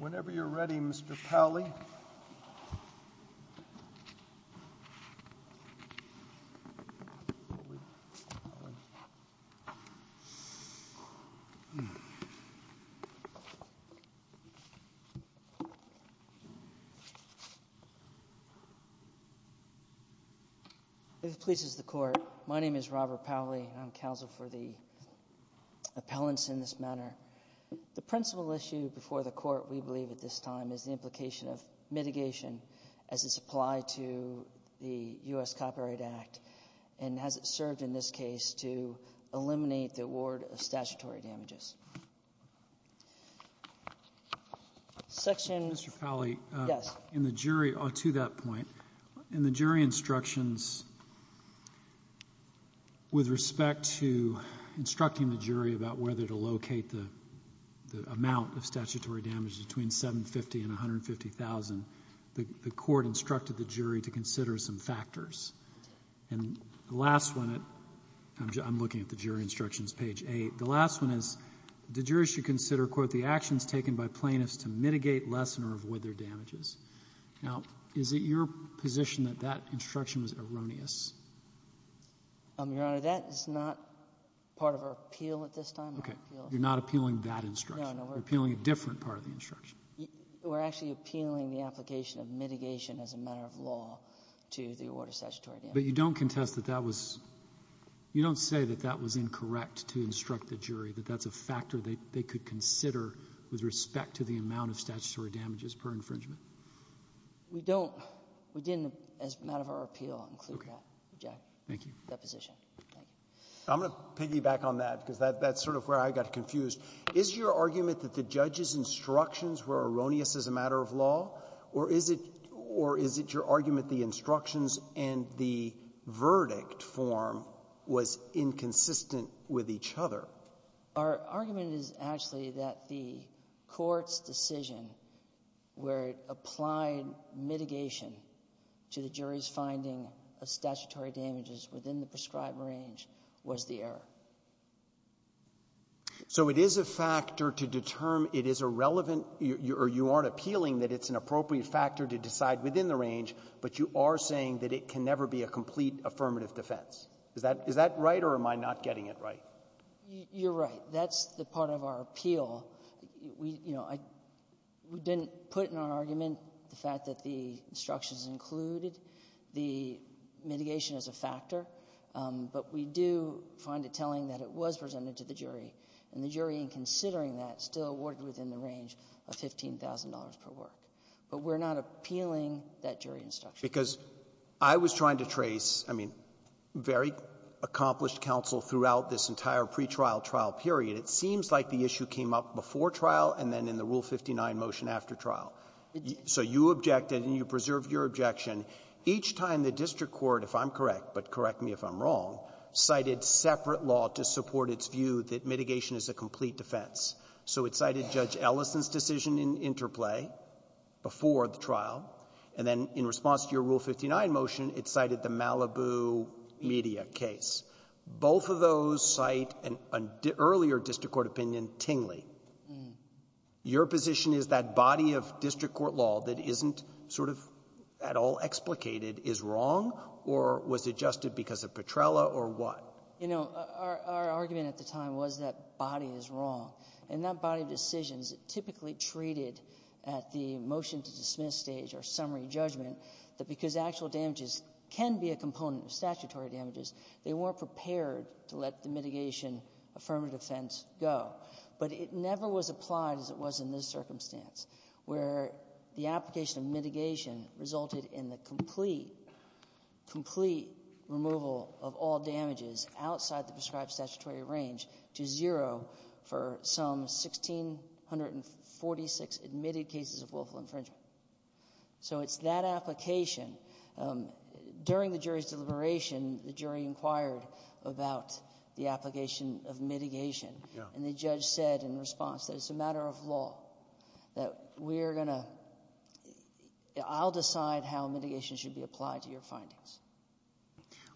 Whenever you're ready, Mr. Pally. If it pleases the Court, my name is Robert Pally and I'm counsel for the appellants in this matter. The principal issue before the Court, we believe at this time, is the implication of mitigation as it's applied to the U.S. Copyright Act and has it served in this case to eliminate the award of statutory damages. Section… Mr. Pally, in the jury, to that point, in the jury instructions with respect to instructing the jury about whether to locate the amount of statutory damage between 750 and 150,000, the Court instructed the jury to consider some factors. And the last one, I'm looking at the jury instructions, page 8, the last one is, the jury should consider, quote, the actions taken by plaintiffs to mitigate, lessen, or avoid their damages. Now, is it your position that that instruction was erroneous? Your Honor, that is not part of our appeal at this time. Okay. You're not appealing that instruction. No, no. We're appealing a different part of the instruction. We're actually appealing the application of mitigation as a matter of law to the award of statutory damages. But you don't contest that that was — you don't say that that was incorrect to instruct the jury, that that's a factor they could consider with respect to the amount of statutory damages per infringement? We don't. We didn't, as a matter of our appeal, include that. Jack. Thank you. That position. Thank you. I'm going to piggyback on that, because that's sort of where I got confused. Is your argument that the judge's instructions were erroneous as a matter of law, or is it your argument the instructions and the verdict form was inconsistent with each other? Our argument is actually that the Court's decision where it applied mitigation to the jury's finding of statutory damages within the prescribed range was the error. So it is a factor to determine — it is a relevant — or you aren't appealing that it's an appropriate factor to decide within the range, but you are saying that it can never be a complete affirmative defense. Is that — is that right, or am I not getting it right? That's the part of our appeal. We — you know, I — we didn't put in our argument the fact that the instructions included the mitigation as a factor, but we do find it telling that it was presented to the jury, and the jury, in considering that, still awarded within the range of $15,000 per work. But we're not appealing that jury instruction. Because I was trying to trace, I mean, very accomplished counsel throughout this entire pretrial trial period, it seems like the issue came up before trial and then in the Rule 59 motion after trial. So you objected, and you preserved your objection. Each time the district court, if I'm correct, but correct me if I'm wrong, cited separate law to support its view that mitigation is a complete defense. So it cited Judge Ellison's decision in interplay before the trial, and then in response to your Rule 59 motion, it cited the Malibu media case. Both of those cite an earlier district court opinion, Tingley. Your position is that body of district court law that isn't sort of at all explicated is wrong or was adjusted because of Petrella or what? You know, our argument at the time was that body is wrong. And that body of decisions typically treated at the motion-to-dismiss stage or summary judgment, that because actual damages can be a component of statutory damages, they weren't prepared to let the mitigation affirmative defense go. But it never was applied as it was in this circumstance, where the application of mitigation resulted in the complete, complete removal of all damages outside the prescribed statutory range to zero for some 1,646 admitted cases of willful infringement. So it's that application. During the jury's deliberation, the jury inquired about the application of mitigation. And the judge said in response that it's a matter of law, that we're going to — I'll decide how mitigation should be applied to your findings.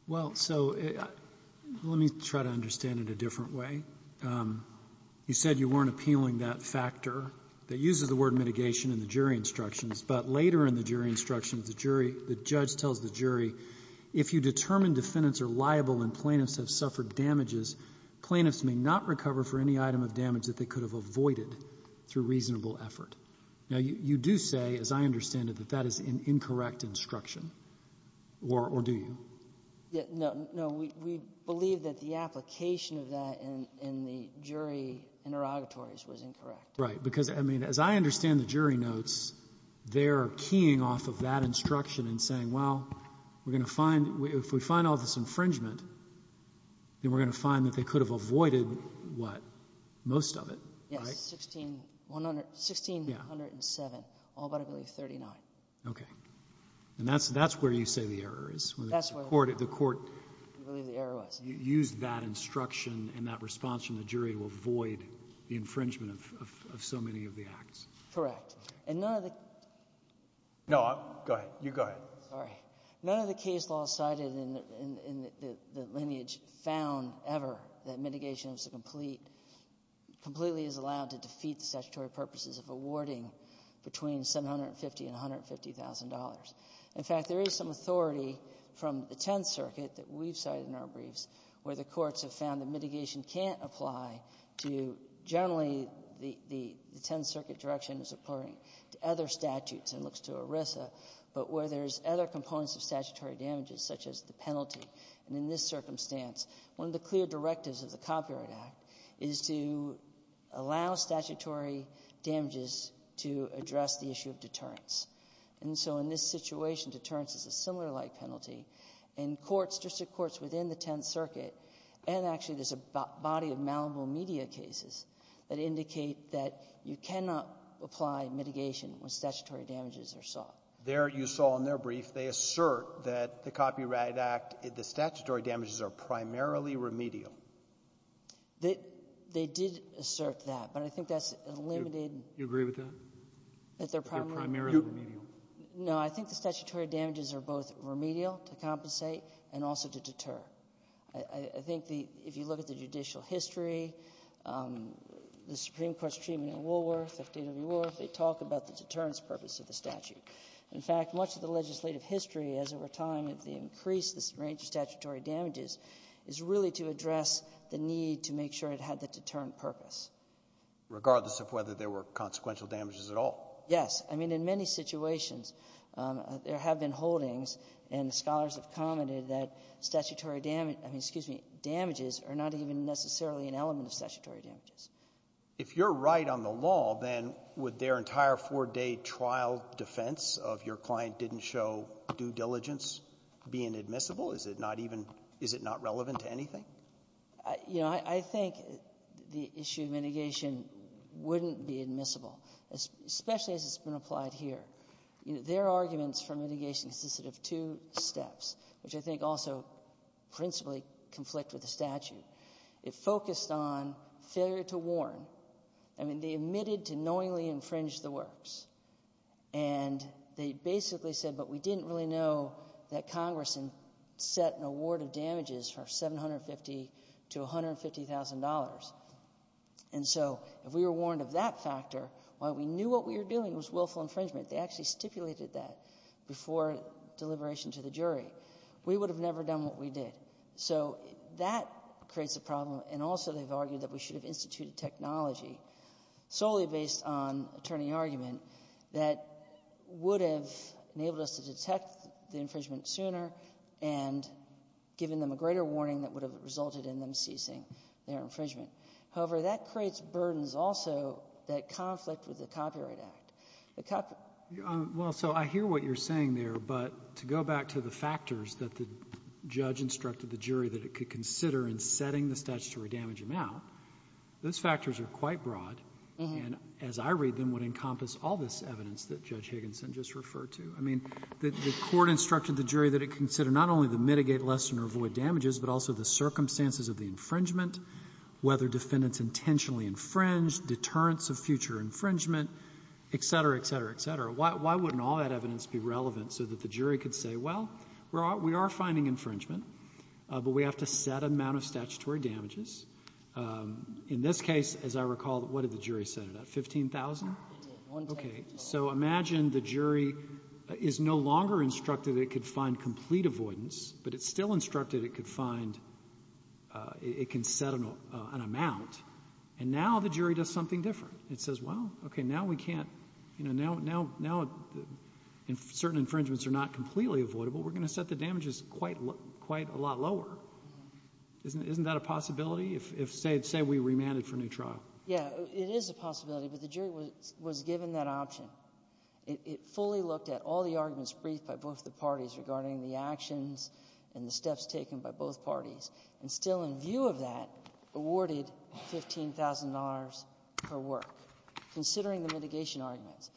Well, so let me try to understand it a different way. You said you weren't appealing that factor that uses the word mitigation in the jury instructions, but later in the jury instructions, the jury — the judge tells the jury, if you determine defendants are liable and plaintiffs have suffered damages, plaintiffs may not recover for any item of damage that they could have avoided through reasonable effort. Now, you do say, as I understand it, that that is an incorrect instruction, or do you? No. We believe that the application of that in the jury interrogatories was incorrect. Right. Because, I mean, as I understand the jury notes, they're keying off of that instruction and saying, well, we're going to find — if we find all this infringement, then we're going to find that they could have avoided what? Most of it, right? Yes, 1,607, all but, I believe, 39. Okay. And that's — that's where you say the error is? That's where we believe the error was. You used that instruction and that response from the jury to avoid the infringement of so many of the acts? Correct. And none of the — No, go ahead. You go ahead. Sorry. None of the case laws cited in the lineage found ever that mitigation was a complete — completely is allowed to defeat the statutory purposes of awarding between $750,000 and $150,000. In fact, there is some authority from the Tenth Circuit that we've cited in our briefs where the courts have found that mitigation can't apply to generally the — the Tenth Circuit direction is according to other statutes and looks to ERISA, but where there's other components of statutory damages, such as the penalty. And in this circumstance, one of the clear directives of the Copyright Act is to allow statutory damages to address the issue of deterrence. And so in this situation, deterrence is a similar-like penalty. And courts, district courts within the Tenth Circuit, and actually there's a body of malleable media cases that indicate that you cannot apply mitigation when statutory damages are sought. There, you saw in their brief, they assert that the Copyright Act — the statutory damages are primarily remedial. They — they did assert that, but I think that's a limited — Do you agree with that, that they're primarily remedial? No. I think the statutory damages are both remedial to compensate and also to deter. I think the — if you look at the judicial history, the Supreme Court's treatment in Woolworth, FDW Woolworth, they talk about the deterrence purpose of the statute. In fact, much of the legislative history, as over time, has increased this range of statutory damages, is really to address the need to make sure it had the deterrent purpose. Regardless of whether there were consequential damages at all? Yes. I mean, in many situations, there have been holdings, and the scholars have commented, that statutory — I mean, excuse me — damages are not even necessarily an element of statutory damages. If you're right on the law, then would their entire four-day trial defense of your client didn't show due diligence being admissible? Is it not even — is it not relevant to anything? You know, I think the issue of mitigation wouldn't be admissible, especially as it's been applied here. Their arguments for mitigation consisted of two steps, which I think also principally conflict with the statute. It focused on failure to warn. I mean, they admitted to knowingly infringe the works. And they basically said, but we didn't really know that Congress had set an award of damages for $750,000 to $150,000. And so if we were warned of that factor, while we knew what we were doing was willful infringement, they actually stipulated that before deliberation to the jury. We would have never done what we did. So that creates a problem. And also they've argued that we should have instituted technology solely based on attorney argument that would have enabled us to detect the infringement sooner and given them a greater warning that would have resulted in them ceasing their infringement. However, that creates burdens also that conflict with the Copyright Act. The Copyright Act — Well, so I hear what you're saying there. But to go back to the factors that the judge instructed the jury that it could consider in setting the statutory damage amount, those factors are quite broad. And as I read them, would encompass all this evidence that Judge Higginson just referred to. I mean, the court instructed the jury that it consider not only the mitigate lesson or avoid damages, but also the circumstances of the infringement, whether defendants intentionally infringed, deterrence of future infringement, et cetera, et cetera, et cetera. Why wouldn't all that evidence be relevant so that the jury could say, well, we are finding infringement, but we have to set amount of statutory damages. In this case, as I recall, what did the jury set it at, 15,000? Okay. So imagine the jury is no longer instructed it could find complete avoidance, but it's still instructed it could find — it can set an amount. And now the jury does something different. It says, well, okay, now we can't — you know, now — now certain infringements are not completely avoidable. We're going to set the damages quite — quite a lot lower. Isn't — isn't that a possibility if — if, say, we remanded for a new trial? Yeah, it is a possibility, but the jury was — was given that option. It — it fully looked at all the arguments briefed by both the parties regarding the actions and the steps taken by both parties, and still in view of that, awarded $15,000 per work, considering the mitigation arguments.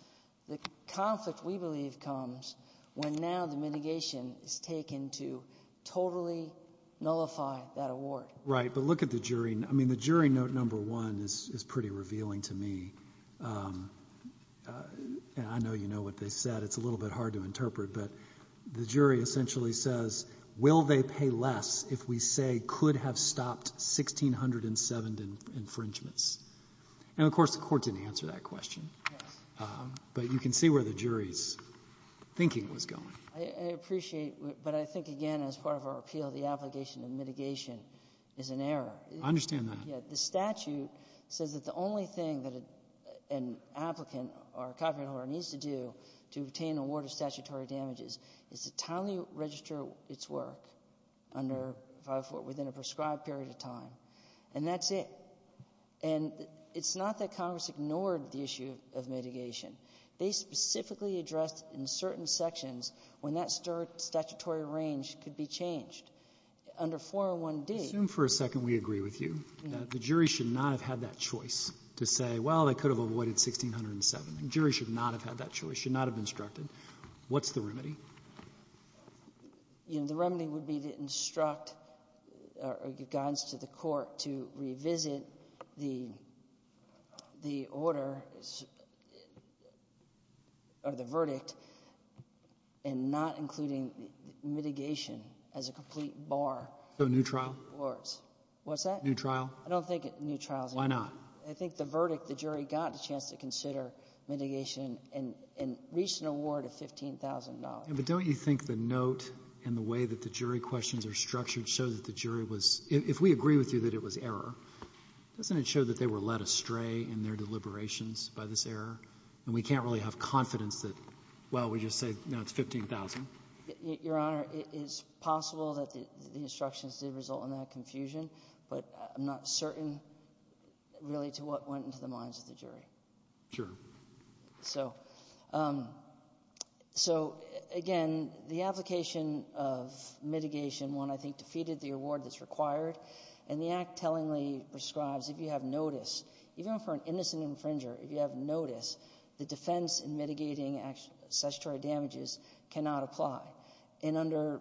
The conflict, we believe, comes when now the mitigation is taken to totally nullify that award. Right. But look at the jury. I mean, the jury note number one is — is pretty revealing to me. I know you know what they said. It's a little bit hard to interpret, but the jury essentially says, will they pay less if we say could have stopped 1,607 infringements? And, of course, the Court didn't answer that question. Yes. But you can see where the jury's thinking was going. I appreciate, but I think, again, as part of our appeal, the obligation of mitigation is an error. I understand that. Yeah. The statute says that the only thing that an applicant or a copyright holder needs to do to obtain an award of statutory damages is to timely register its work under 544 — within a prescribed period of time. And that's it. And it's not that Congress ignored the issue of mitigation. They specifically addressed, in certain sections, when that statutory range could be changed. Under 401D — Assume for a second we agree with you that the jury should not have had that choice to say, well, they could have avoided 1,607. The jury should not have had that choice, should not have instructed. What's the remedy? You know, the remedy would be to instruct or give guidance to the Court to revisit the order or the verdict and not including mitigation as a complete bar. So a new trial? Awards. What's that? New trial. I don't think it's a new trial, Your Honor. Why not? I think the verdict, the jury got a chance to consider mitigation and reached an award of $15,000. Yeah, but don't you think the note and the way that the jury questions are structured show that the jury was — if we agree with you that it was error, doesn't it show that they were led astray in their deliberations by this error? And we can't really have confidence that, well, we just say, no, it's 15,000. Your Honor, it's possible that the instructions did result in that confusion, but I'm not certain, really, to what went into the minds of the jury. Sure. So, again, the application of mitigation, one, I think, defeated the award that's required, and the Act tellingly prescribes if you have notice, even for an innocent infringer, if you have notice, the defense in mitigating statutory damages cannot apply. And under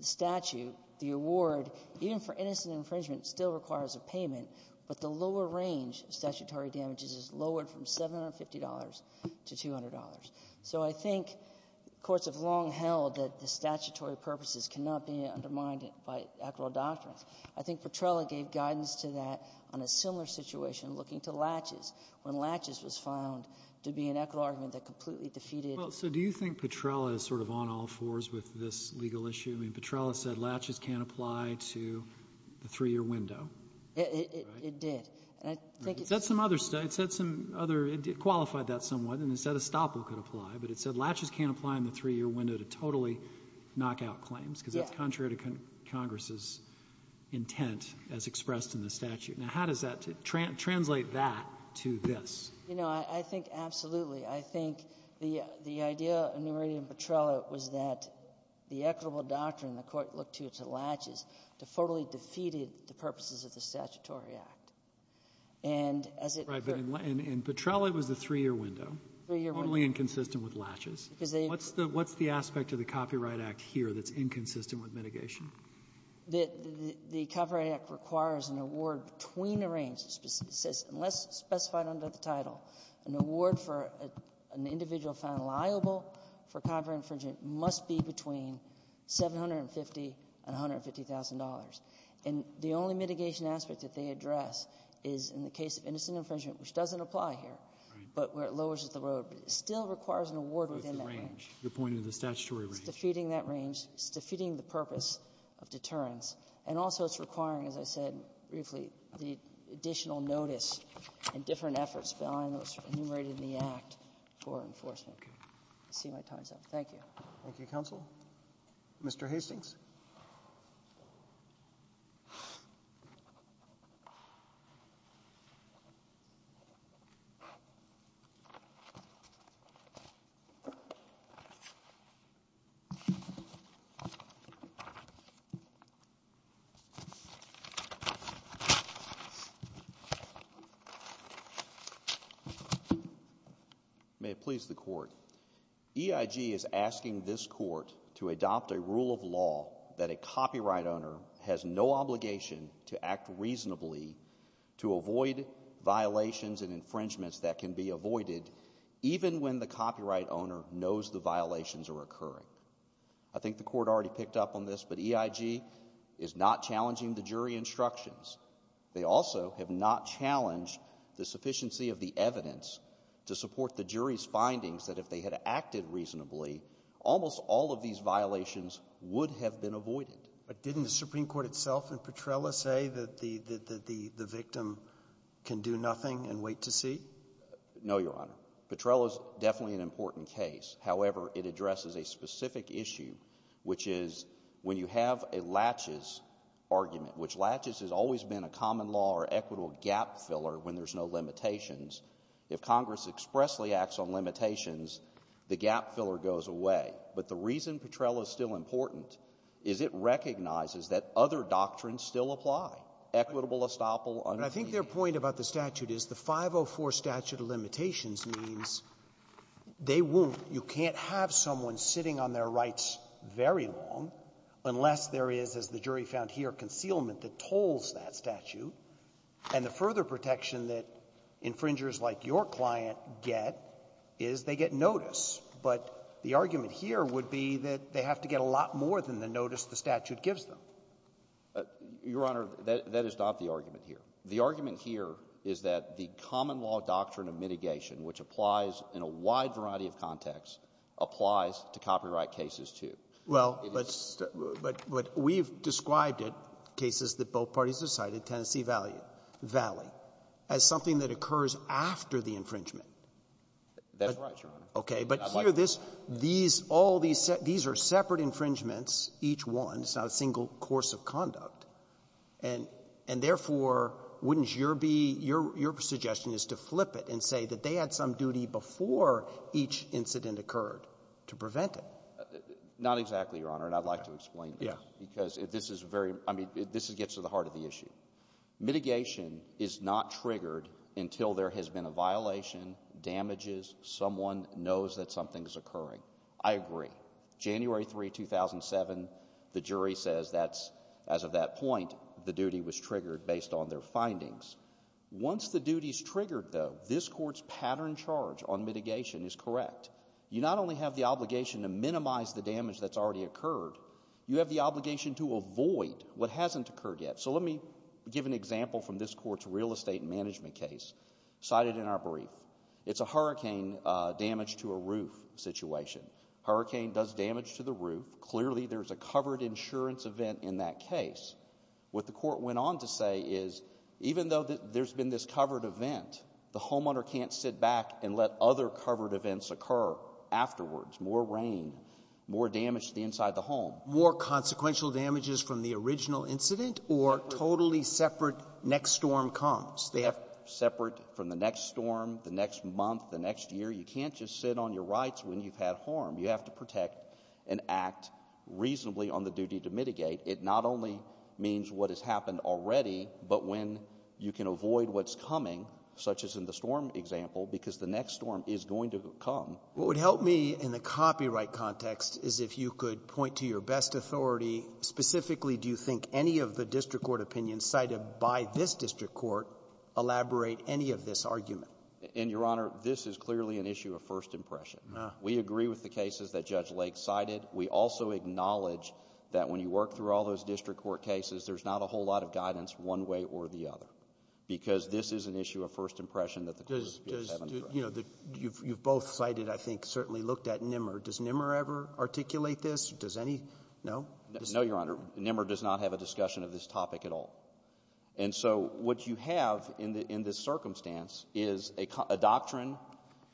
statute, the award, even for innocent infringement, still requires a payment, but the lower range of statutory damages is lowered from $750 to $200. So I think courts have long held that the statutory purposes cannot be undermined by equitable doctrines. I think Petrella gave guidance to that on a similar situation looking to Latches when Latches was found to be an equitable argument that completely defeated — I mean, Petrella said Latches can't apply to the three-year window, right? It did. And I think — It said some other — it said some other — it qualified that somewhat, and it said Estoppel could apply, but it said Latches can't apply in the three-year window to totally knock out claims, because that's contrary to Congress's intent as expressed in the statute. Now, how does that — translate that to this? You know, I think, absolutely. I think the — the idea in New Meridian and Petrella was that the equitable doctrine the Court looked to, to Latches, totally defeated the purposes of the Statutory Act. And as it — And Petrella was the three-year window, totally inconsistent with Latches. What's the — what's the aspect of the Copyright Act here that's inconsistent with mitigation? The — the Copyright Act requires an award between the range, says, unless specified under the title, an award for an individual found liable for copyright infringement must be between $750,000 and $150,000. And the only mitigation aspect that they address is in the case of innocent infringement, which doesn't apply here, but where it lowers the road. But it still requires an award within that range. With the range. You're pointing to the statutory range. It's defeating that range. It's defeating the purpose of deterrence. And also it's requiring, as I said briefly, the additional notice and different efforts behind those enumerated in the Act for enforcement. I see my time's up. Thank you. Thank you, Counsel. Mr. Hastings. EIG is asking this court to adopt a rule of law that a copyright owner has no obligation to act reasonably to avoid violations and infringements that can be avoided even when the copyright owner knows the violations are occurring. I think the court already picked up on this, but EIG is not challenging the jury instructions. They also have not challenged the sufficiency of the evidence to support the jury's findings that if they had acted reasonably, almost all of these violations would have been avoided. But didn't the Supreme Court itself and Petrella say that the victim can do nothing and wait to see? No, Your Honor. Petrella's definitely an important case. However, it addresses a specific issue, which is when you have a laches argument, which laches has always been a common law or equitable gap filler when there's no limitations. If Congress expressly acts on limitations, the gap filler goes away. But the reason Petrella is still important is it recognizes that other doctrines still apply, equitable estoppel, unobtrusive. I think their point about the statute is the 504 statute of limitations means they won't, you can't have someone sitting on their rights very long unless there is, as the jury found here, concealment that tolls that statute. And the further protection that infringers like your client get is they get notice. But the argument here would be that they have to get a lot more than the notice the statute gives them. Your Honor, that is not the argument here. The argument here is that the common law doctrine of mitigation, which applies in a wide variety of contexts, applies to copyright cases, too. Well, but we've described it, cases that both parties have cited, Tennessee Valley, as something that occurs after the infringement. That's right, Your Honor. Okay. But here, this, these, all these, these are separate infringements, each one. It's not a single course of conduct. And therefore, wouldn't your be — your suggestion is to flip it and say that they had some duty before each incident occurred to prevent it? Not exactly, Your Honor. And I'd like to explain this. Yeah. Because this is very — I mean, this gets to the heart of the issue. Mitigation is not triggered until there has been a violation, damages, someone knows that something's occurring. I agree. January 3, 2007, the jury says that's — as of that point, the duty was triggered based on their findings. Once the duty's triggered, though, this Court's pattern charge on mitigation is correct. You not only have the obligation to minimize the damage that's already occurred, you have the obligation to avoid what hasn't occurred yet. So let me give an example from this Court's real estate management case, cited in our brief. It's a hurricane damage to a roof situation. Hurricane does damage to the roof. Clearly, there's a covered insurance event in that case. What the Court went on to say is, even though there's been this covered event, the homeowner can't sit back and let other covered events occur afterwards. More rain, more damage to the inside of the home. More consequential damages from the original incident or totally separate next storm comes? They have — Separate from the next storm, the next month, the next year. You can't just sit on your rights when you've had harm. You have to protect and act reasonably on the duty to mitigate. It not only means what has happened already, but when you can avoid what's coming, such as in the storm example, because the next storm is going to come. What would help me in the copyright context is if you could point to your best authority. Specifically, do you think any of the district court opinions cited by this district court elaborate any of this argument? And, Your Honor, this is clearly an issue of first impression. We agree with the cases that Judge Lake cited. We also acknowledge that when you work through all those district court cases, there's not a whole lot of guidance one way or the other, because this is an issue of first impression that the courts haven't addressed. You know, you've both cited, I think, certainly looked at NMR. Does NMR ever articulate this? Does any — no? No, Your Honor. NMR does not have a discussion of this topic at all. And so what you have in this circumstance is a doctrine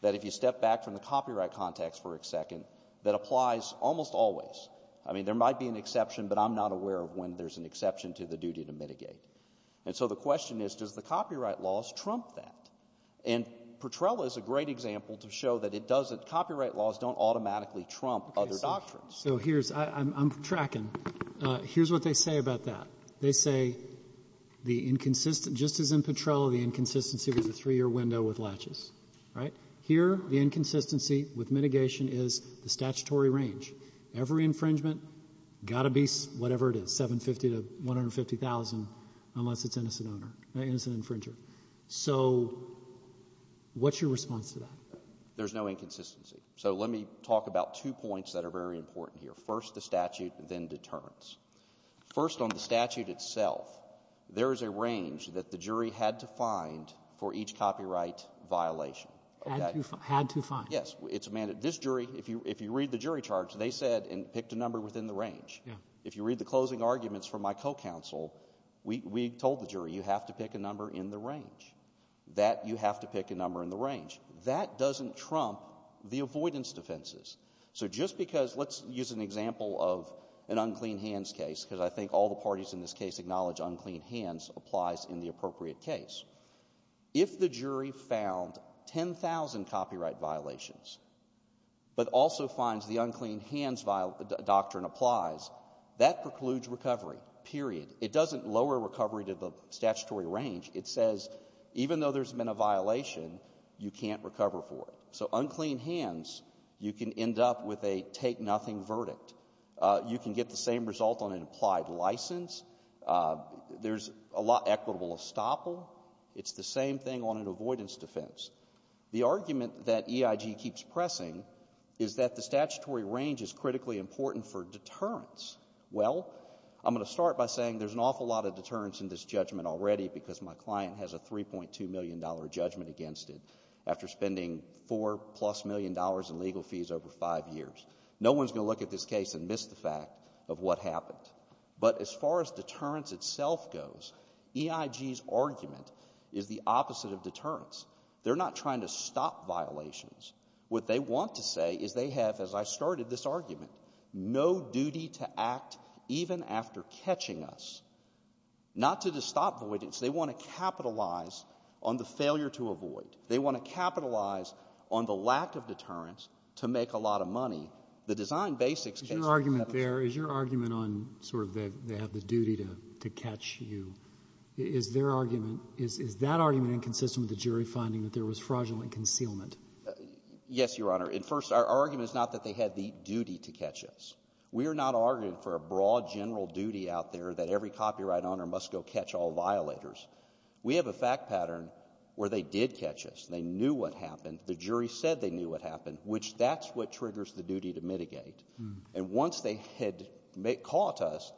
that, if you step back from the copyright context for a second, that applies almost always. I mean, there might be an exception, but I'm not aware of when there's an exception to the duty to mitigate. And so the question is, does the copyright laws trump that? And Petrella is a great example to show that it doesn't — copyright laws don't automatically trump other doctrines. So here's — I'm tracking. Here's what they say about that. They say the inconsistent — just as in Petrella, the inconsistency was a three-year window with latches, right? Here, the inconsistency with mitigation is the statutory range. Every infringement, got to be whatever it is, 750,000 to 150,000, unless it's innocent owner — innocent infringer. So what's your response to that? There's no inconsistency. So let me talk about two points that are very important here. First, the statute, then deterrence. First, on the statute itself, there is a range that the jury had to find for each copyright violation. Had to find. Yes. It's a — this jury, if you read the jury charge, they said — and picked a number within the range. Yeah. If you read the closing arguments from my co-counsel, we told the jury, you have to pick a number in the range. That you have to pick a number in the range. That doesn't trump the avoidance defenses. So just because — let's use an example of an unclean hands case, because I think all the parties in this case acknowledge unclean hands applies in the appropriate case. If the jury found 10,000 copyright violations, but also finds the unclean hands doctrine applies, that precludes recovery, period. It doesn't lower recovery to the statutory range. It says, even though there's been a violation, you can't recover for it. So unclean hands, you can end up with a take-nothing verdict. You can get the same result on an applied license. There's a lot equitable estoppel. It's the same thing on an avoidance defense. The argument that EIG keeps pressing is that the statutory range is critically important for deterrence. Well, I'm going to start by saying there's an awful lot of deterrence in this judgment already, because my client has a $3.2 million judgment against it, after spending four-plus million dollars in legal fees over five years. No one's going to look at this case and miss the fact of what happened. But as far as deterrence itself goes, EIG's argument is the opposite of deterrence. They're not trying to stop violations. What they want to say is they have, as I started this argument, no duty to act even after catching us. Not to stop avoidance. They want to capitalize on the failure to avoid. They want to capitalize on the lack of deterrence to make a lot of money. The design basics — Is your argument there — is your argument on sort of they have the duty to catch you? Is their argument — is that argument inconsistent with the jury finding that there was fraudulent concealment? Yes, Your Honor. And first, our argument is not that they had the duty to catch us. We are not arguing for a broad general duty out there that every copyright owner must go catch all violators. We have a fact pattern where they did catch us. They knew what happened. The jury said they knew what happened, which that's what triggers the duty to mitigate. And once they had caught us,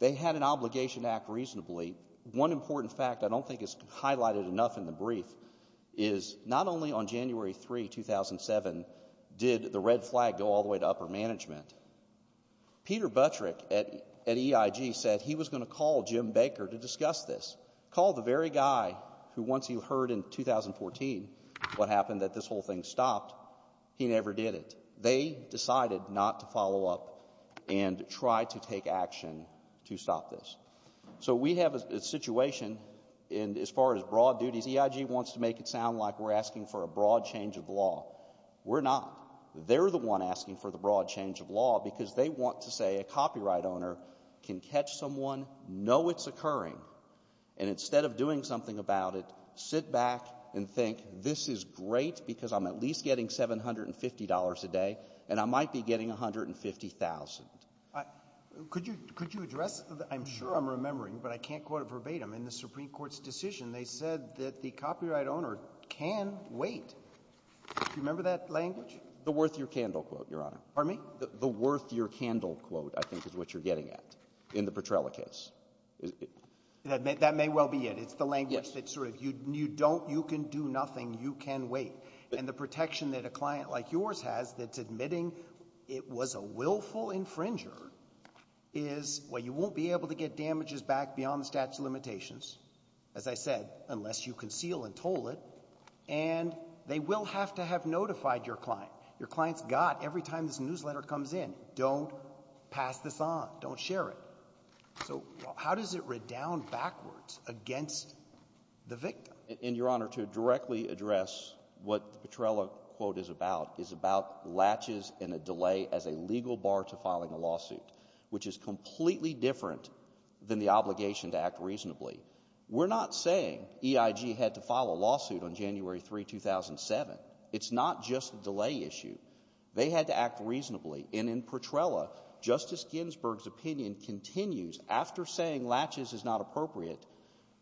they had an obligation to act reasonably. One important fact I don't think is highlighted enough in the brief is not only on January 3, 2007, did the red flag go all the way to upper management. Peter Buttrick at EIG said he was going to call Jim Baker to discuss this. Call the very guy who, once he heard in 2014 what happened, that this whole thing stopped. He never did it. They decided not to follow up and try to take action to stop this. So we have a situation, and as far as broad duties, EIG wants to make it sound like we're asking for a broad change of law. We're not. They're the one asking for the broad change of law because they want to say a copyright owner can catch someone, know it's occurring, and instead of doing something about it, sit back and think, this is great because I'm at least getting $750 a day, and I might be getting $150,000. Could you address? I'm sure I'm remembering, but I can't quote it verbatim. In the Supreme Court's decision, they said that the copyright owner can wait. Do you remember that language? The worth your candle quote, Your Honor. Pardon me? The worth your candle quote, I think, is what you're getting at in the Petrella case. That may well be it. It's the language that's sort of, you don't, you can do nothing, you can wait. And the protection that a client like yours has that's admitting it was a willful infringer is, well, you won't be able to get damages back beyond the statute of limitations. As I said, unless you conceal and toll it, and they will have to have notified your client. Your client's got, every time this newsletter comes in, don't pass this on, don't share it. So how does it redound backwards against the victim? In Your Honor, to directly address what the Petrella quote is about, is about latches and a delay as a legal bar to filing a lawsuit, which is completely different than the obligation to act reasonably. We're not saying EIG had to file a lawsuit on January 3, 2007. It's not just a delay issue. They had to act reasonably. And in Petrella, Justice Ginsburg's opinion continues, after saying latches is not appropriate,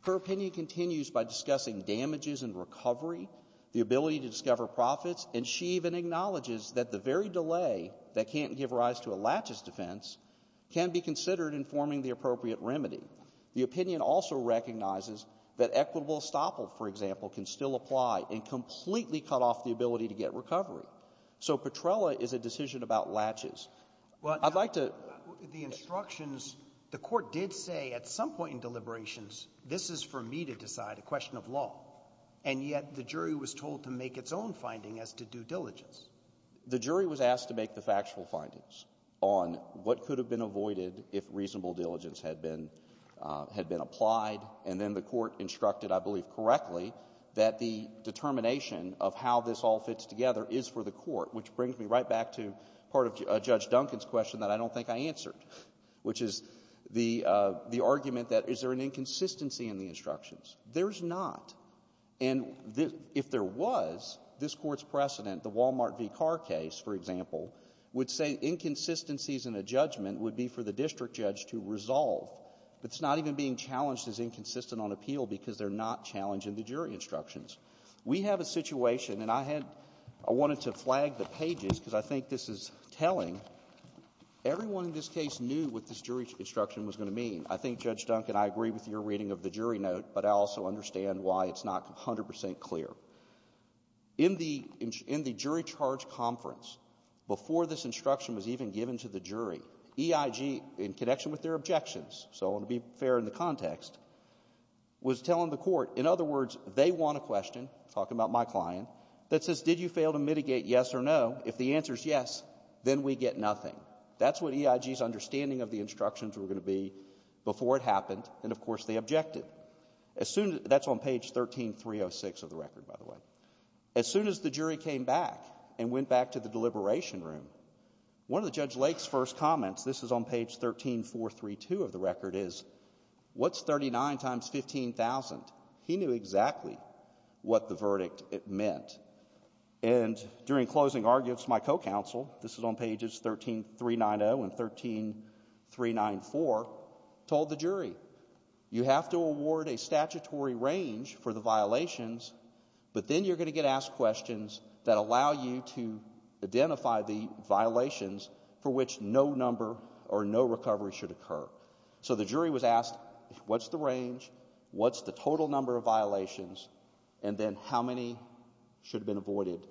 her opinion continues by discussing damages and recovery, the ability to discover profits. And she even acknowledges that the very delay that can't give rise to a latches defense can be considered informing the appropriate remedy. The opinion also recognizes that equitable estoppel, for example, can still apply and completely cut off the ability to get recovery. So Petrella is a decision about latches. I'd like to- The instructions, the court did say at some point in deliberations, this is for me to decide, a question of law. And yet the jury was told to make its own finding as to due diligence. The jury was asked to make the factual findings on what could have been avoided if reasonable diligence had been applied. And then the court instructed, I believe correctly, that the determination of how this all fits together is for the court, which brings me right back to part of Judge Duncan's question that I don't think I answered, which is the argument that is there an inconsistency in the instructions? There's not. And if there was, this court's precedent, the Walmart v. Carr case, for example, would say inconsistencies in a judgment would be for the district judge to resolve. It's not even being challenged as inconsistent on appeal, because they're not challenged in the jury instructions. We have a situation, and I had — I wanted to flag the pages, because I think this is telling. Everyone in this case knew what this jury instruction was going to mean. I think, Judge Duncan, I agree with your reading of the jury note, but I also understand why it's not 100 percent clear. In the jury charge conference, before this instruction was even given to the jury, EIG, in connection with their objections, so I want to be fair in the context, was telling the court, in other words, they want a question, talking about my client, that says, did you fail to mitigate yes or no? If the answer is yes, then we get nothing. That's what EIG's understanding of the instructions were going to be before it happened, and, of course, they objected. As soon — that's on page 13-306 of the record, by the way. As soon as the jury came back and went back to the deliberation room, one of Judge Duncan, he knew exactly what the verdict meant. And during closing arguments, my co-counsel — this is on pages 13-390 and 13-394 — told the jury, you have to award a statutory range for the violations, but then you're going to get asked questions that allow you to identify the violations for which no number or no recovery should occur. So the jury was asked, what's the range, what's the total number of violations, and then how many should have been avoided?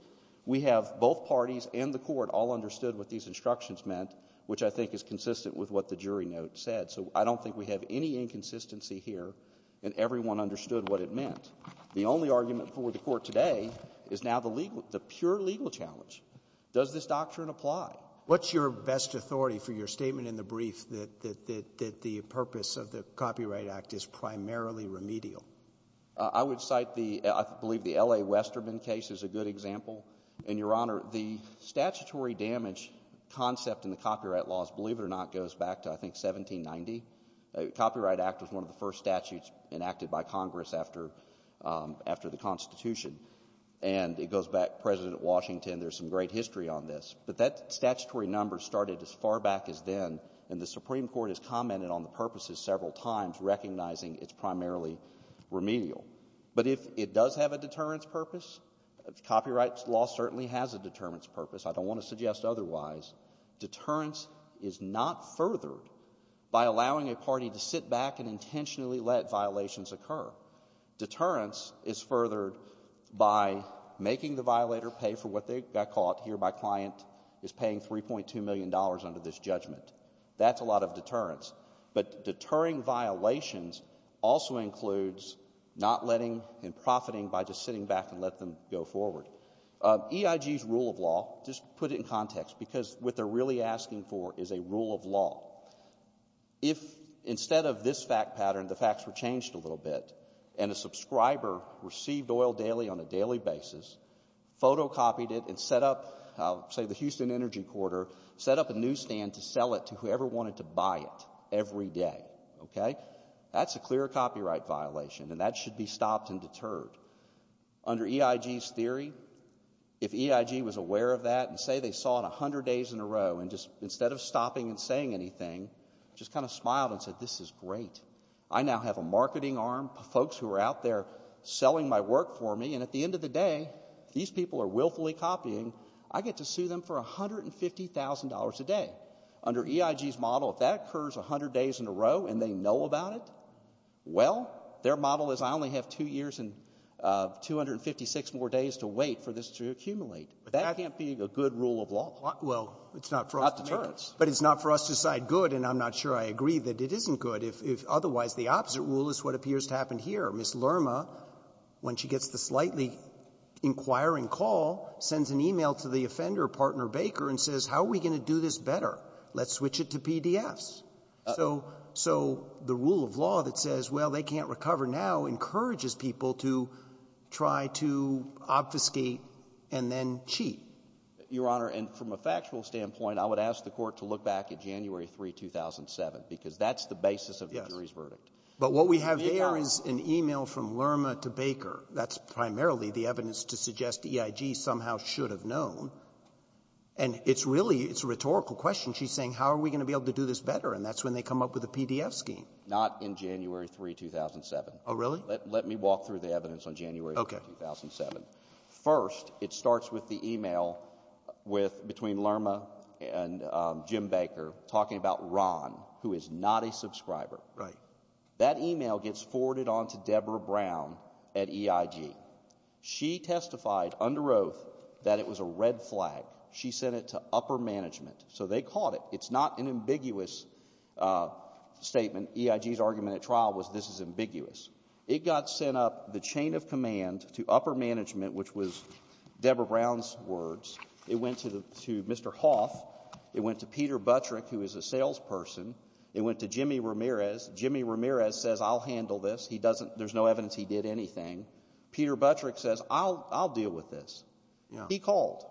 We have both parties and the court all understood what these instructions meant, which I think is consistent with what the jury note said. So I don't think we have any inconsistency here, and everyone understood what it meant. The only argument for the court today is now the pure legal challenge. Does this doctrine apply? What's your best authority for your statement in the brief that the purpose of the Copyright Act is primarily remedial? I would cite the — I believe the L.A. Westerman case is a good example. And Your Honor, the statutory damage concept in the copyright laws, believe it or not, goes back to, I think, 1790. The Copyright Act was one of the first statutes enacted by Congress after the Constitution. And it goes back to President Washington. There's some great history on this. But that statutory number started as far back as then, and the Supreme Court has commented on the purposes several times, recognizing it's primarily remedial. But if it does have a deterrence purpose, copyright law certainly has a deterrence purpose. I don't want to suggest otherwise. Deterrence is not furthered by allowing a party to sit back and intentionally let violations occur. Deterrence is furthered by making the violator pay for what they got caught here by client is paying $3.2 million under this judgment. That's a lot of deterrence. But deterring violations also includes not letting and profiting by just sitting back and let them go forward. EIG's rule of law — just put it in context, because what they're really asking for is a rule of law. If, instead of this fact pattern, the facts were changed a little bit, and a subscriber received oil daily on a daily basis, photocopied it, and set up, say, the Houston Energy Corridor, set up a newsstand to sell it to whoever wanted to buy it every day, okay, that's a clear copyright violation, and that should be stopped and deterred. Under EIG's theory, if EIG was aware of that, and say they saw it 100 days in a row, and just, instead of stopping and saying anything, just kind of smiled and said, this is great. I now have a marketing arm, folks who are out there selling my work for me, and at the end of the day, these people are willfully copying. I get to sue them for $150,000 a day. Under EIG's model, if that occurs 100 days in a row and they know about it, well, their model is I only have two years and 256 more days to wait for this to accumulate. That can't be a good rule of law. Well, it's not for us to make. Not deterrence. But it's not for us to decide good, and I'm not sure I agree that it isn't good. If otherwise, the opposite rule is what appears to happen here. Ms. Lerma, when she gets the slightly inquiring call, sends an email to the offender, partner Baker, and says, how are we going to do this better? Let's switch it to PDFs. So the rule of law that says, well, they can't recover now, encourages people to try to obfuscate and then cheat. Your Honor, and from a factual standpoint, I would ask the Court to look back at January 3, 2007, because that's the basis of the jury's verdict. But what we have there is an email from Lerma to Baker. That's primarily the evidence to suggest EIG somehow should have known. And it's really, it's a rhetorical question. She's saying, how are we going to be able to do this better? And that's when they come up with a PDF scheme. Not in January 3, 2007. Oh, really? Let me walk through the evidence on January 3, 2007. Okay. First, it starts with the email between Lerma and Jim Baker, talking about Ron, who is not a subscriber. Right. That email gets forwarded on to Deborah Brown at EIG. She testified under oath that it was a red flag. She sent it to upper management. So they caught it. It's not an ambiguous statement. EIG's argument at trial was, this is ambiguous. It got sent up the chain of command to upper management, which was Deborah Brown's words. It went to Mr. Hoff. It went to Peter Buttrick, who is a salesperson. It went to Jimmy Ramirez. Jimmy Ramirez says, I'll handle this. He doesn't, there's no evidence he did anything. Peter Buttrick says, I'll deal with this. He called.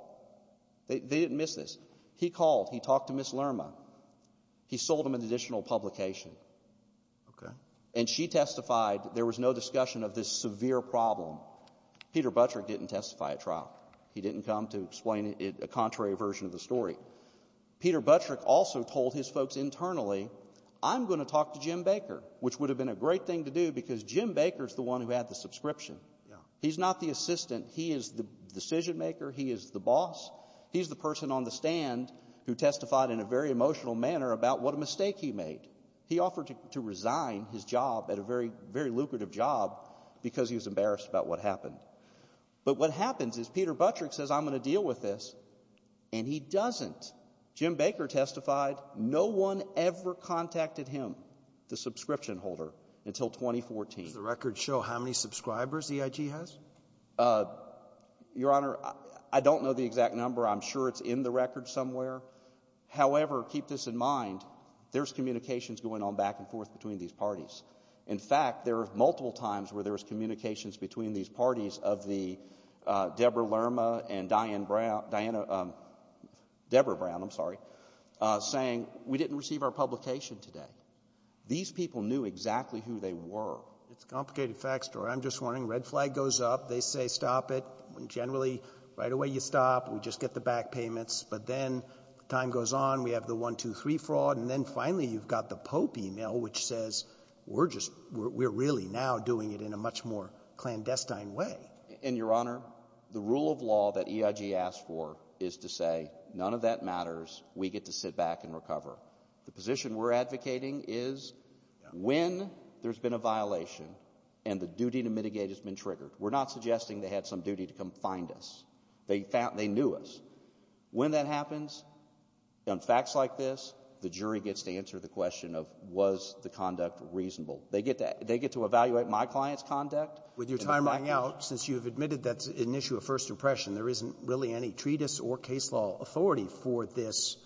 They didn't miss this. He called. He talked to Ms. Lerma. He sold him an additional publication. Okay. And she testified there was no discussion of this severe problem. Peter Buttrick didn't testify at trial. He didn't come to explain it, a contrary version of the story. Peter Buttrick also told his folks internally, I'm gonna talk to Jim Baker, which would have been a great thing to do, because Jim Baker's the one who had the subscription. He's not the assistant. He is the decision maker. He is the boss. He's the person on the stand who testified in a very emotional manner about what a mistake he made. He offered to, to resign his job at a very, very lucrative job because he was embarrassed about what happened. But what happens is, Peter Buttrick says, I'm gonna deal with this. And he doesn't. Jim Baker testified, no one ever contacted him, the subscription holder, until 2014. Does the record show how many subscribers EIG has? Your Honor, I, I don't know the exact number. I'm sure it's in the record somewhere. However, keep this in mind, there's communications going on back and forth between these parties. In fact, there are multiple times where there's communications between these parties of the Debra Lerma and Diane Brown, Diana Debra Brown, I'm sorry. Saying, we didn't receive our publication today. These people knew exactly who they were. It's a complicated fact story. I'm just warning, red flag goes up, they say stop it. Generally, right away you stop, we just get the back payments. But then, time goes on, we have the one, two, three fraud. And then finally, you've got the Pope email, which says, we're just, we're, we're really now doing it in a much more clandestine way. In your honor, the rule of law that EIG asked for is to say, none of that matters, we get to sit back and recover. The position we're advocating is, when there's been a violation and the duty to mitigate has been triggered, we're not suggesting they had some duty to come find us. They found, they knew us. When that happens, on facts like this, the jury gets to answer the question of, was the conduct reasonable? They get to, they get to evaluate my client's conduct. With your time running out, since you've admitted that's an issue of first impression, there isn't really any treatise or case law authority for this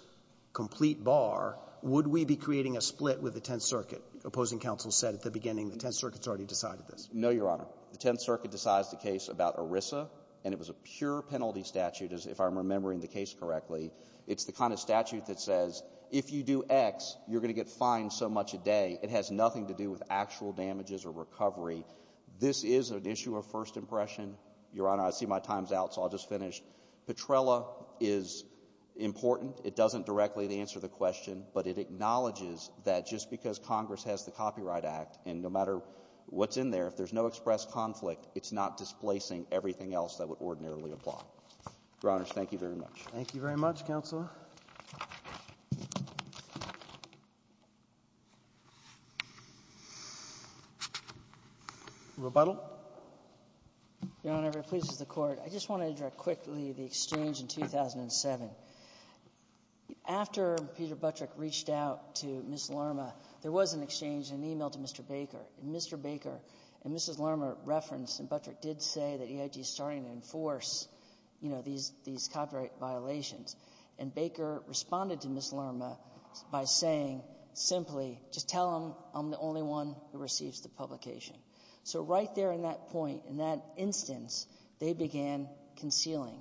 complete bar. Would we be creating a split with the Tenth Circuit? Opposing counsel said at the beginning, the Tenth Circuit's already decided this. No, your honor. The Tenth Circuit decides the case about ERISA, and it was a pure penalty statute. If I'm remembering the case correctly, it's the kind of statute that says, if you do X, you're going to get fined so much a day. It has nothing to do with actual damages or recovery. This is an issue of first impression. Your honor, I see my time's out, so I'll just finish. Petrella is important. It doesn't directly answer the question, but it acknowledges that just because Congress has the Copyright Act, and no matter what's in there, if there's no express conflict, it's not displacing everything else that would ordinarily apply. Your honors, thank you very much. Thank you very much, counsel. Rebuttal? Your honor, if it pleases the Court, I just want to address quickly the exchange in 2007. After Peter Buttrick reached out to Ms. Larma, there was an exchange, an email to Mr. Baker, and Mr. Baker and Mrs. Larma referenced, and Buttrick did say that EIT is starting to enforce these copyright violations. And Baker responded to Ms. Larma by saying, simply, just tell them I'm the only one who receives the publication. So right there in that point, in that instance, they began concealing.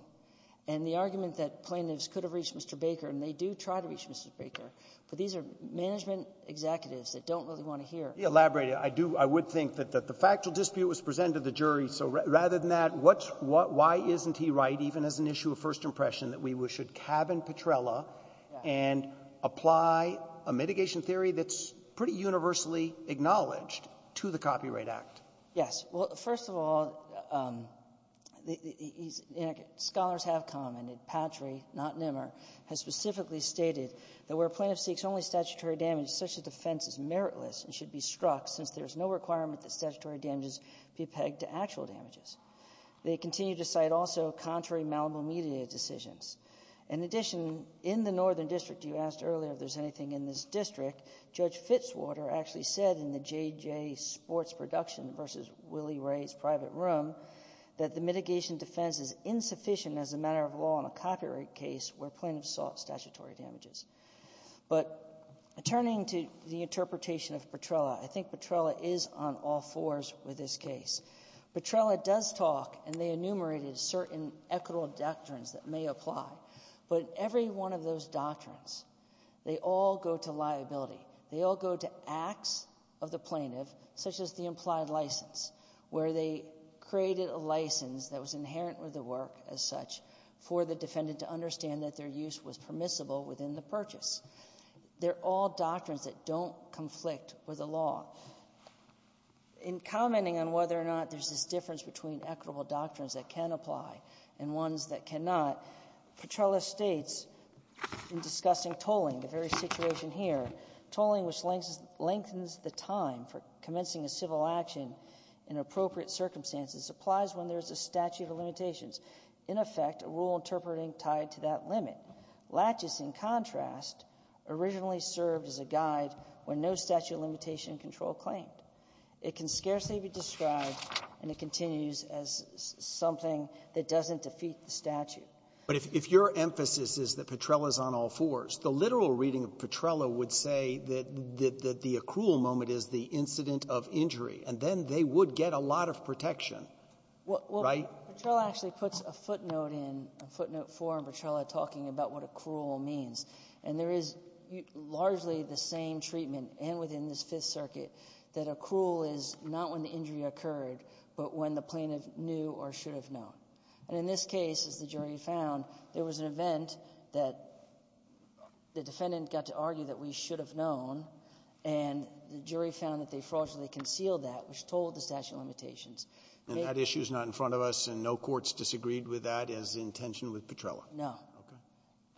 And the argument that plaintiffs could have reached Mr. Baker, and they do try to reach Mr. Baker, but these are management executives that don't really want to hear. Elaborate it. I would think that the factual dispute was presented to the jury. So rather than that, what's why isn't he right, even as an issue of first impression, that we should cabin Petrella and apply a mitigation theory that's pretty universally acknowledged to the Copyright Act? Yes. Well, first of all, scholars have commented, Patry, not Nimmer, has specifically stated that where a plaintiff seeks only statutory damage, such a defense is meritless and should be struck, since there's no requirement that statutory damages be pegged to actual damages. They continue to cite also contrary malleable media decisions. In addition, in the Northern District, you asked earlier if there's anything in this district. Judge Fitzwater actually said in the JJ Sports Production versus Willie Ray's private room, that the mitigation defense is insufficient as a matter of law in a copyright case where plaintiffs sought statutory damages. But turning to the interpretation of Petrella, I think Petrella is on all fours with this case. Petrella does talk, and they enumerated, certain equitable doctrines that may apply. But every one of those doctrines, they all go to liability. They all go to acts of the plaintiff, such as the implied license, where they created a license that was inherent with the work as such for the defendant to understand that their use was permissible within the purchase. They're all doctrines that don't conflict with the law. In commenting on whether or not there's this difference between equitable doctrines that can apply and ones that cannot, Petrella states in discussing tolling, the very situation here, tolling which lengthens the time for commencing a civil action in appropriate circumstances, applies when there's a statute of limitations, in effect, a rule interpreting tied to that limit. Latches, in contrast, originally served as a guide when no statute of limitation control claimed. It can scarcely be described, and it continues as something that doesn't defeat the statute. But if your emphasis is that Petrella's on all fours, the literal reading of Petrella would say that the accrual moment is the incident of injury. And then they would get a lot of protection, right? Well, Petrella actually puts a footnote in, a footnote four in Petrella talking about what accrual means. And there is largely the same treatment, and within this Fifth Circuit, that accrual is not when the injury occurred, but when the plaintiff knew or should have known. And in this case, as the jury found, there was an event that the defendant got to argue that we should have known. And the jury found that they fraudulently concealed that, which told the statute of limitations. And that issue is not in front of us, and no courts disagreed with that as the intention with Petrella? No. Okay.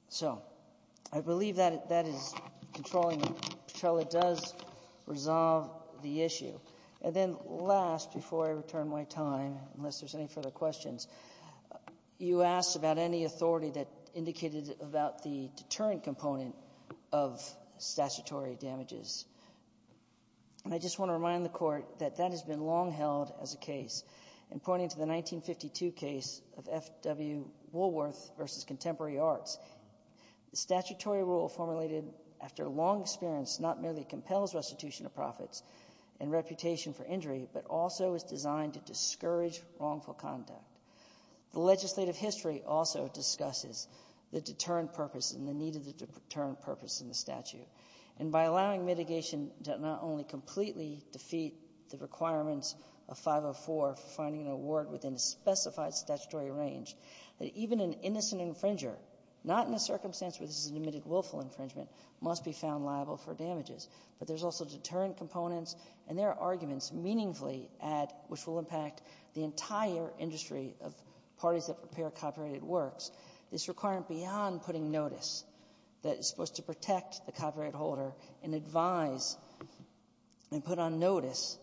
So I believe that that is controlling. Petrella does resolve the issue. And then last, before I return my time, unless there's any further questions, you asked about any authority that indicated about the deterrent component of statutory damages. And I just want to remind the Court that that has been long held as a case. And pointing to the 1952 case of F.W. Woolworth versus Contemporary Arts. The statutory rule formulated after long experience not merely compels restitution of profits and reputation for injury, but also is designed to discourage wrongful conduct. The legislative history also discusses the deterrent purpose and the need of the deterrent purpose in the statute. And by allowing mitigation to not only completely defeat the requirements of 504, finding an award within a specified statutory range, that even an innocent infringer, not in a circumstance where this is an admitted willful infringement, must be found liable for damages. But there's also deterrent components, and there are arguments meaningfully at, which will impact the entire industry of parties that prepare copyrighted works. This requirement beyond putting notice that is supposed to protect the copyright holder and advise and put on notice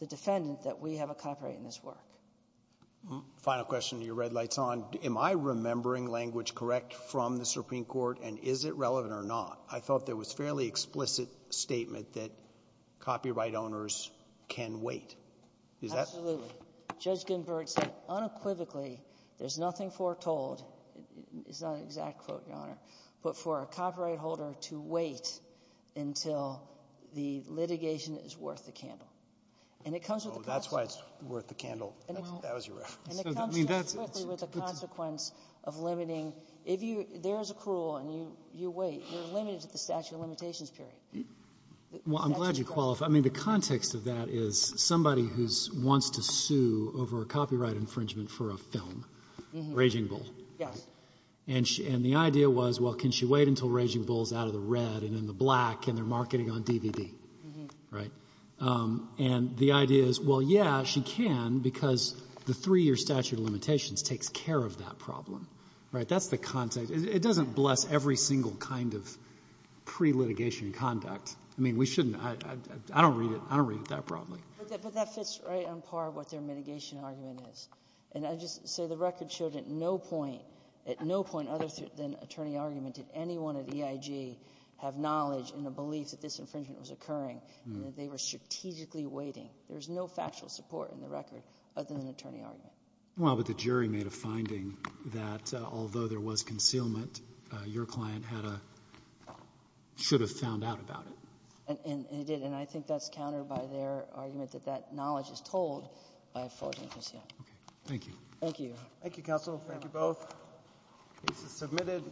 the defendant that we have a copyright in this work. Final question, your red light's on. Am I remembering language correct from the Supreme Court, and is it relevant or not? I thought there was fairly explicit statement that copyright owners can wait. Is that- Absolutely. Judge Ginsburg said unequivocally, there's nothing foretold, it's not an exact quote, your honor, but for a copyright holder to wait until the litigation is worth the candle. And it comes with a consequence. No, that's why it's worth the candle, that was your reference. And it comes to you quickly with a consequence of limiting. If you, there's a cruel and you wait, you're limited to the statute of limitations period. Well, I'm glad you qualify. I mean, the context of that is somebody who wants to sue over a copyright infringement for a film, Raging Bull. Yes. And the idea was, well, can she wait until Raging Bull's out of the red and in the black and they're marketing on DVD, right? And the idea is, well, yeah, she can because the three-year statute of limitations takes care of that problem, right? That's the context. It doesn't bless every single kind of pre-litigation conduct. I mean, we shouldn't, I don't read it, I don't read it that broadly. But that fits right on par with what their mitigation argument is. And I just say the record showed at no point, at no point other than attorney argument, did anyone at EIG have knowledge and a belief that this infringement was occurring and that they were strategically waiting. There's no factual support in the record other than an attorney argument. Well, but the jury made a finding that although there was concealment, your client had a, should have found out about it. And it did. And I think that's countered by their argument that that knowledge is told by a fraudulent concealment. Okay. Thank you. Thank you. Thank you, counsel. Thank you both. Case is submitted.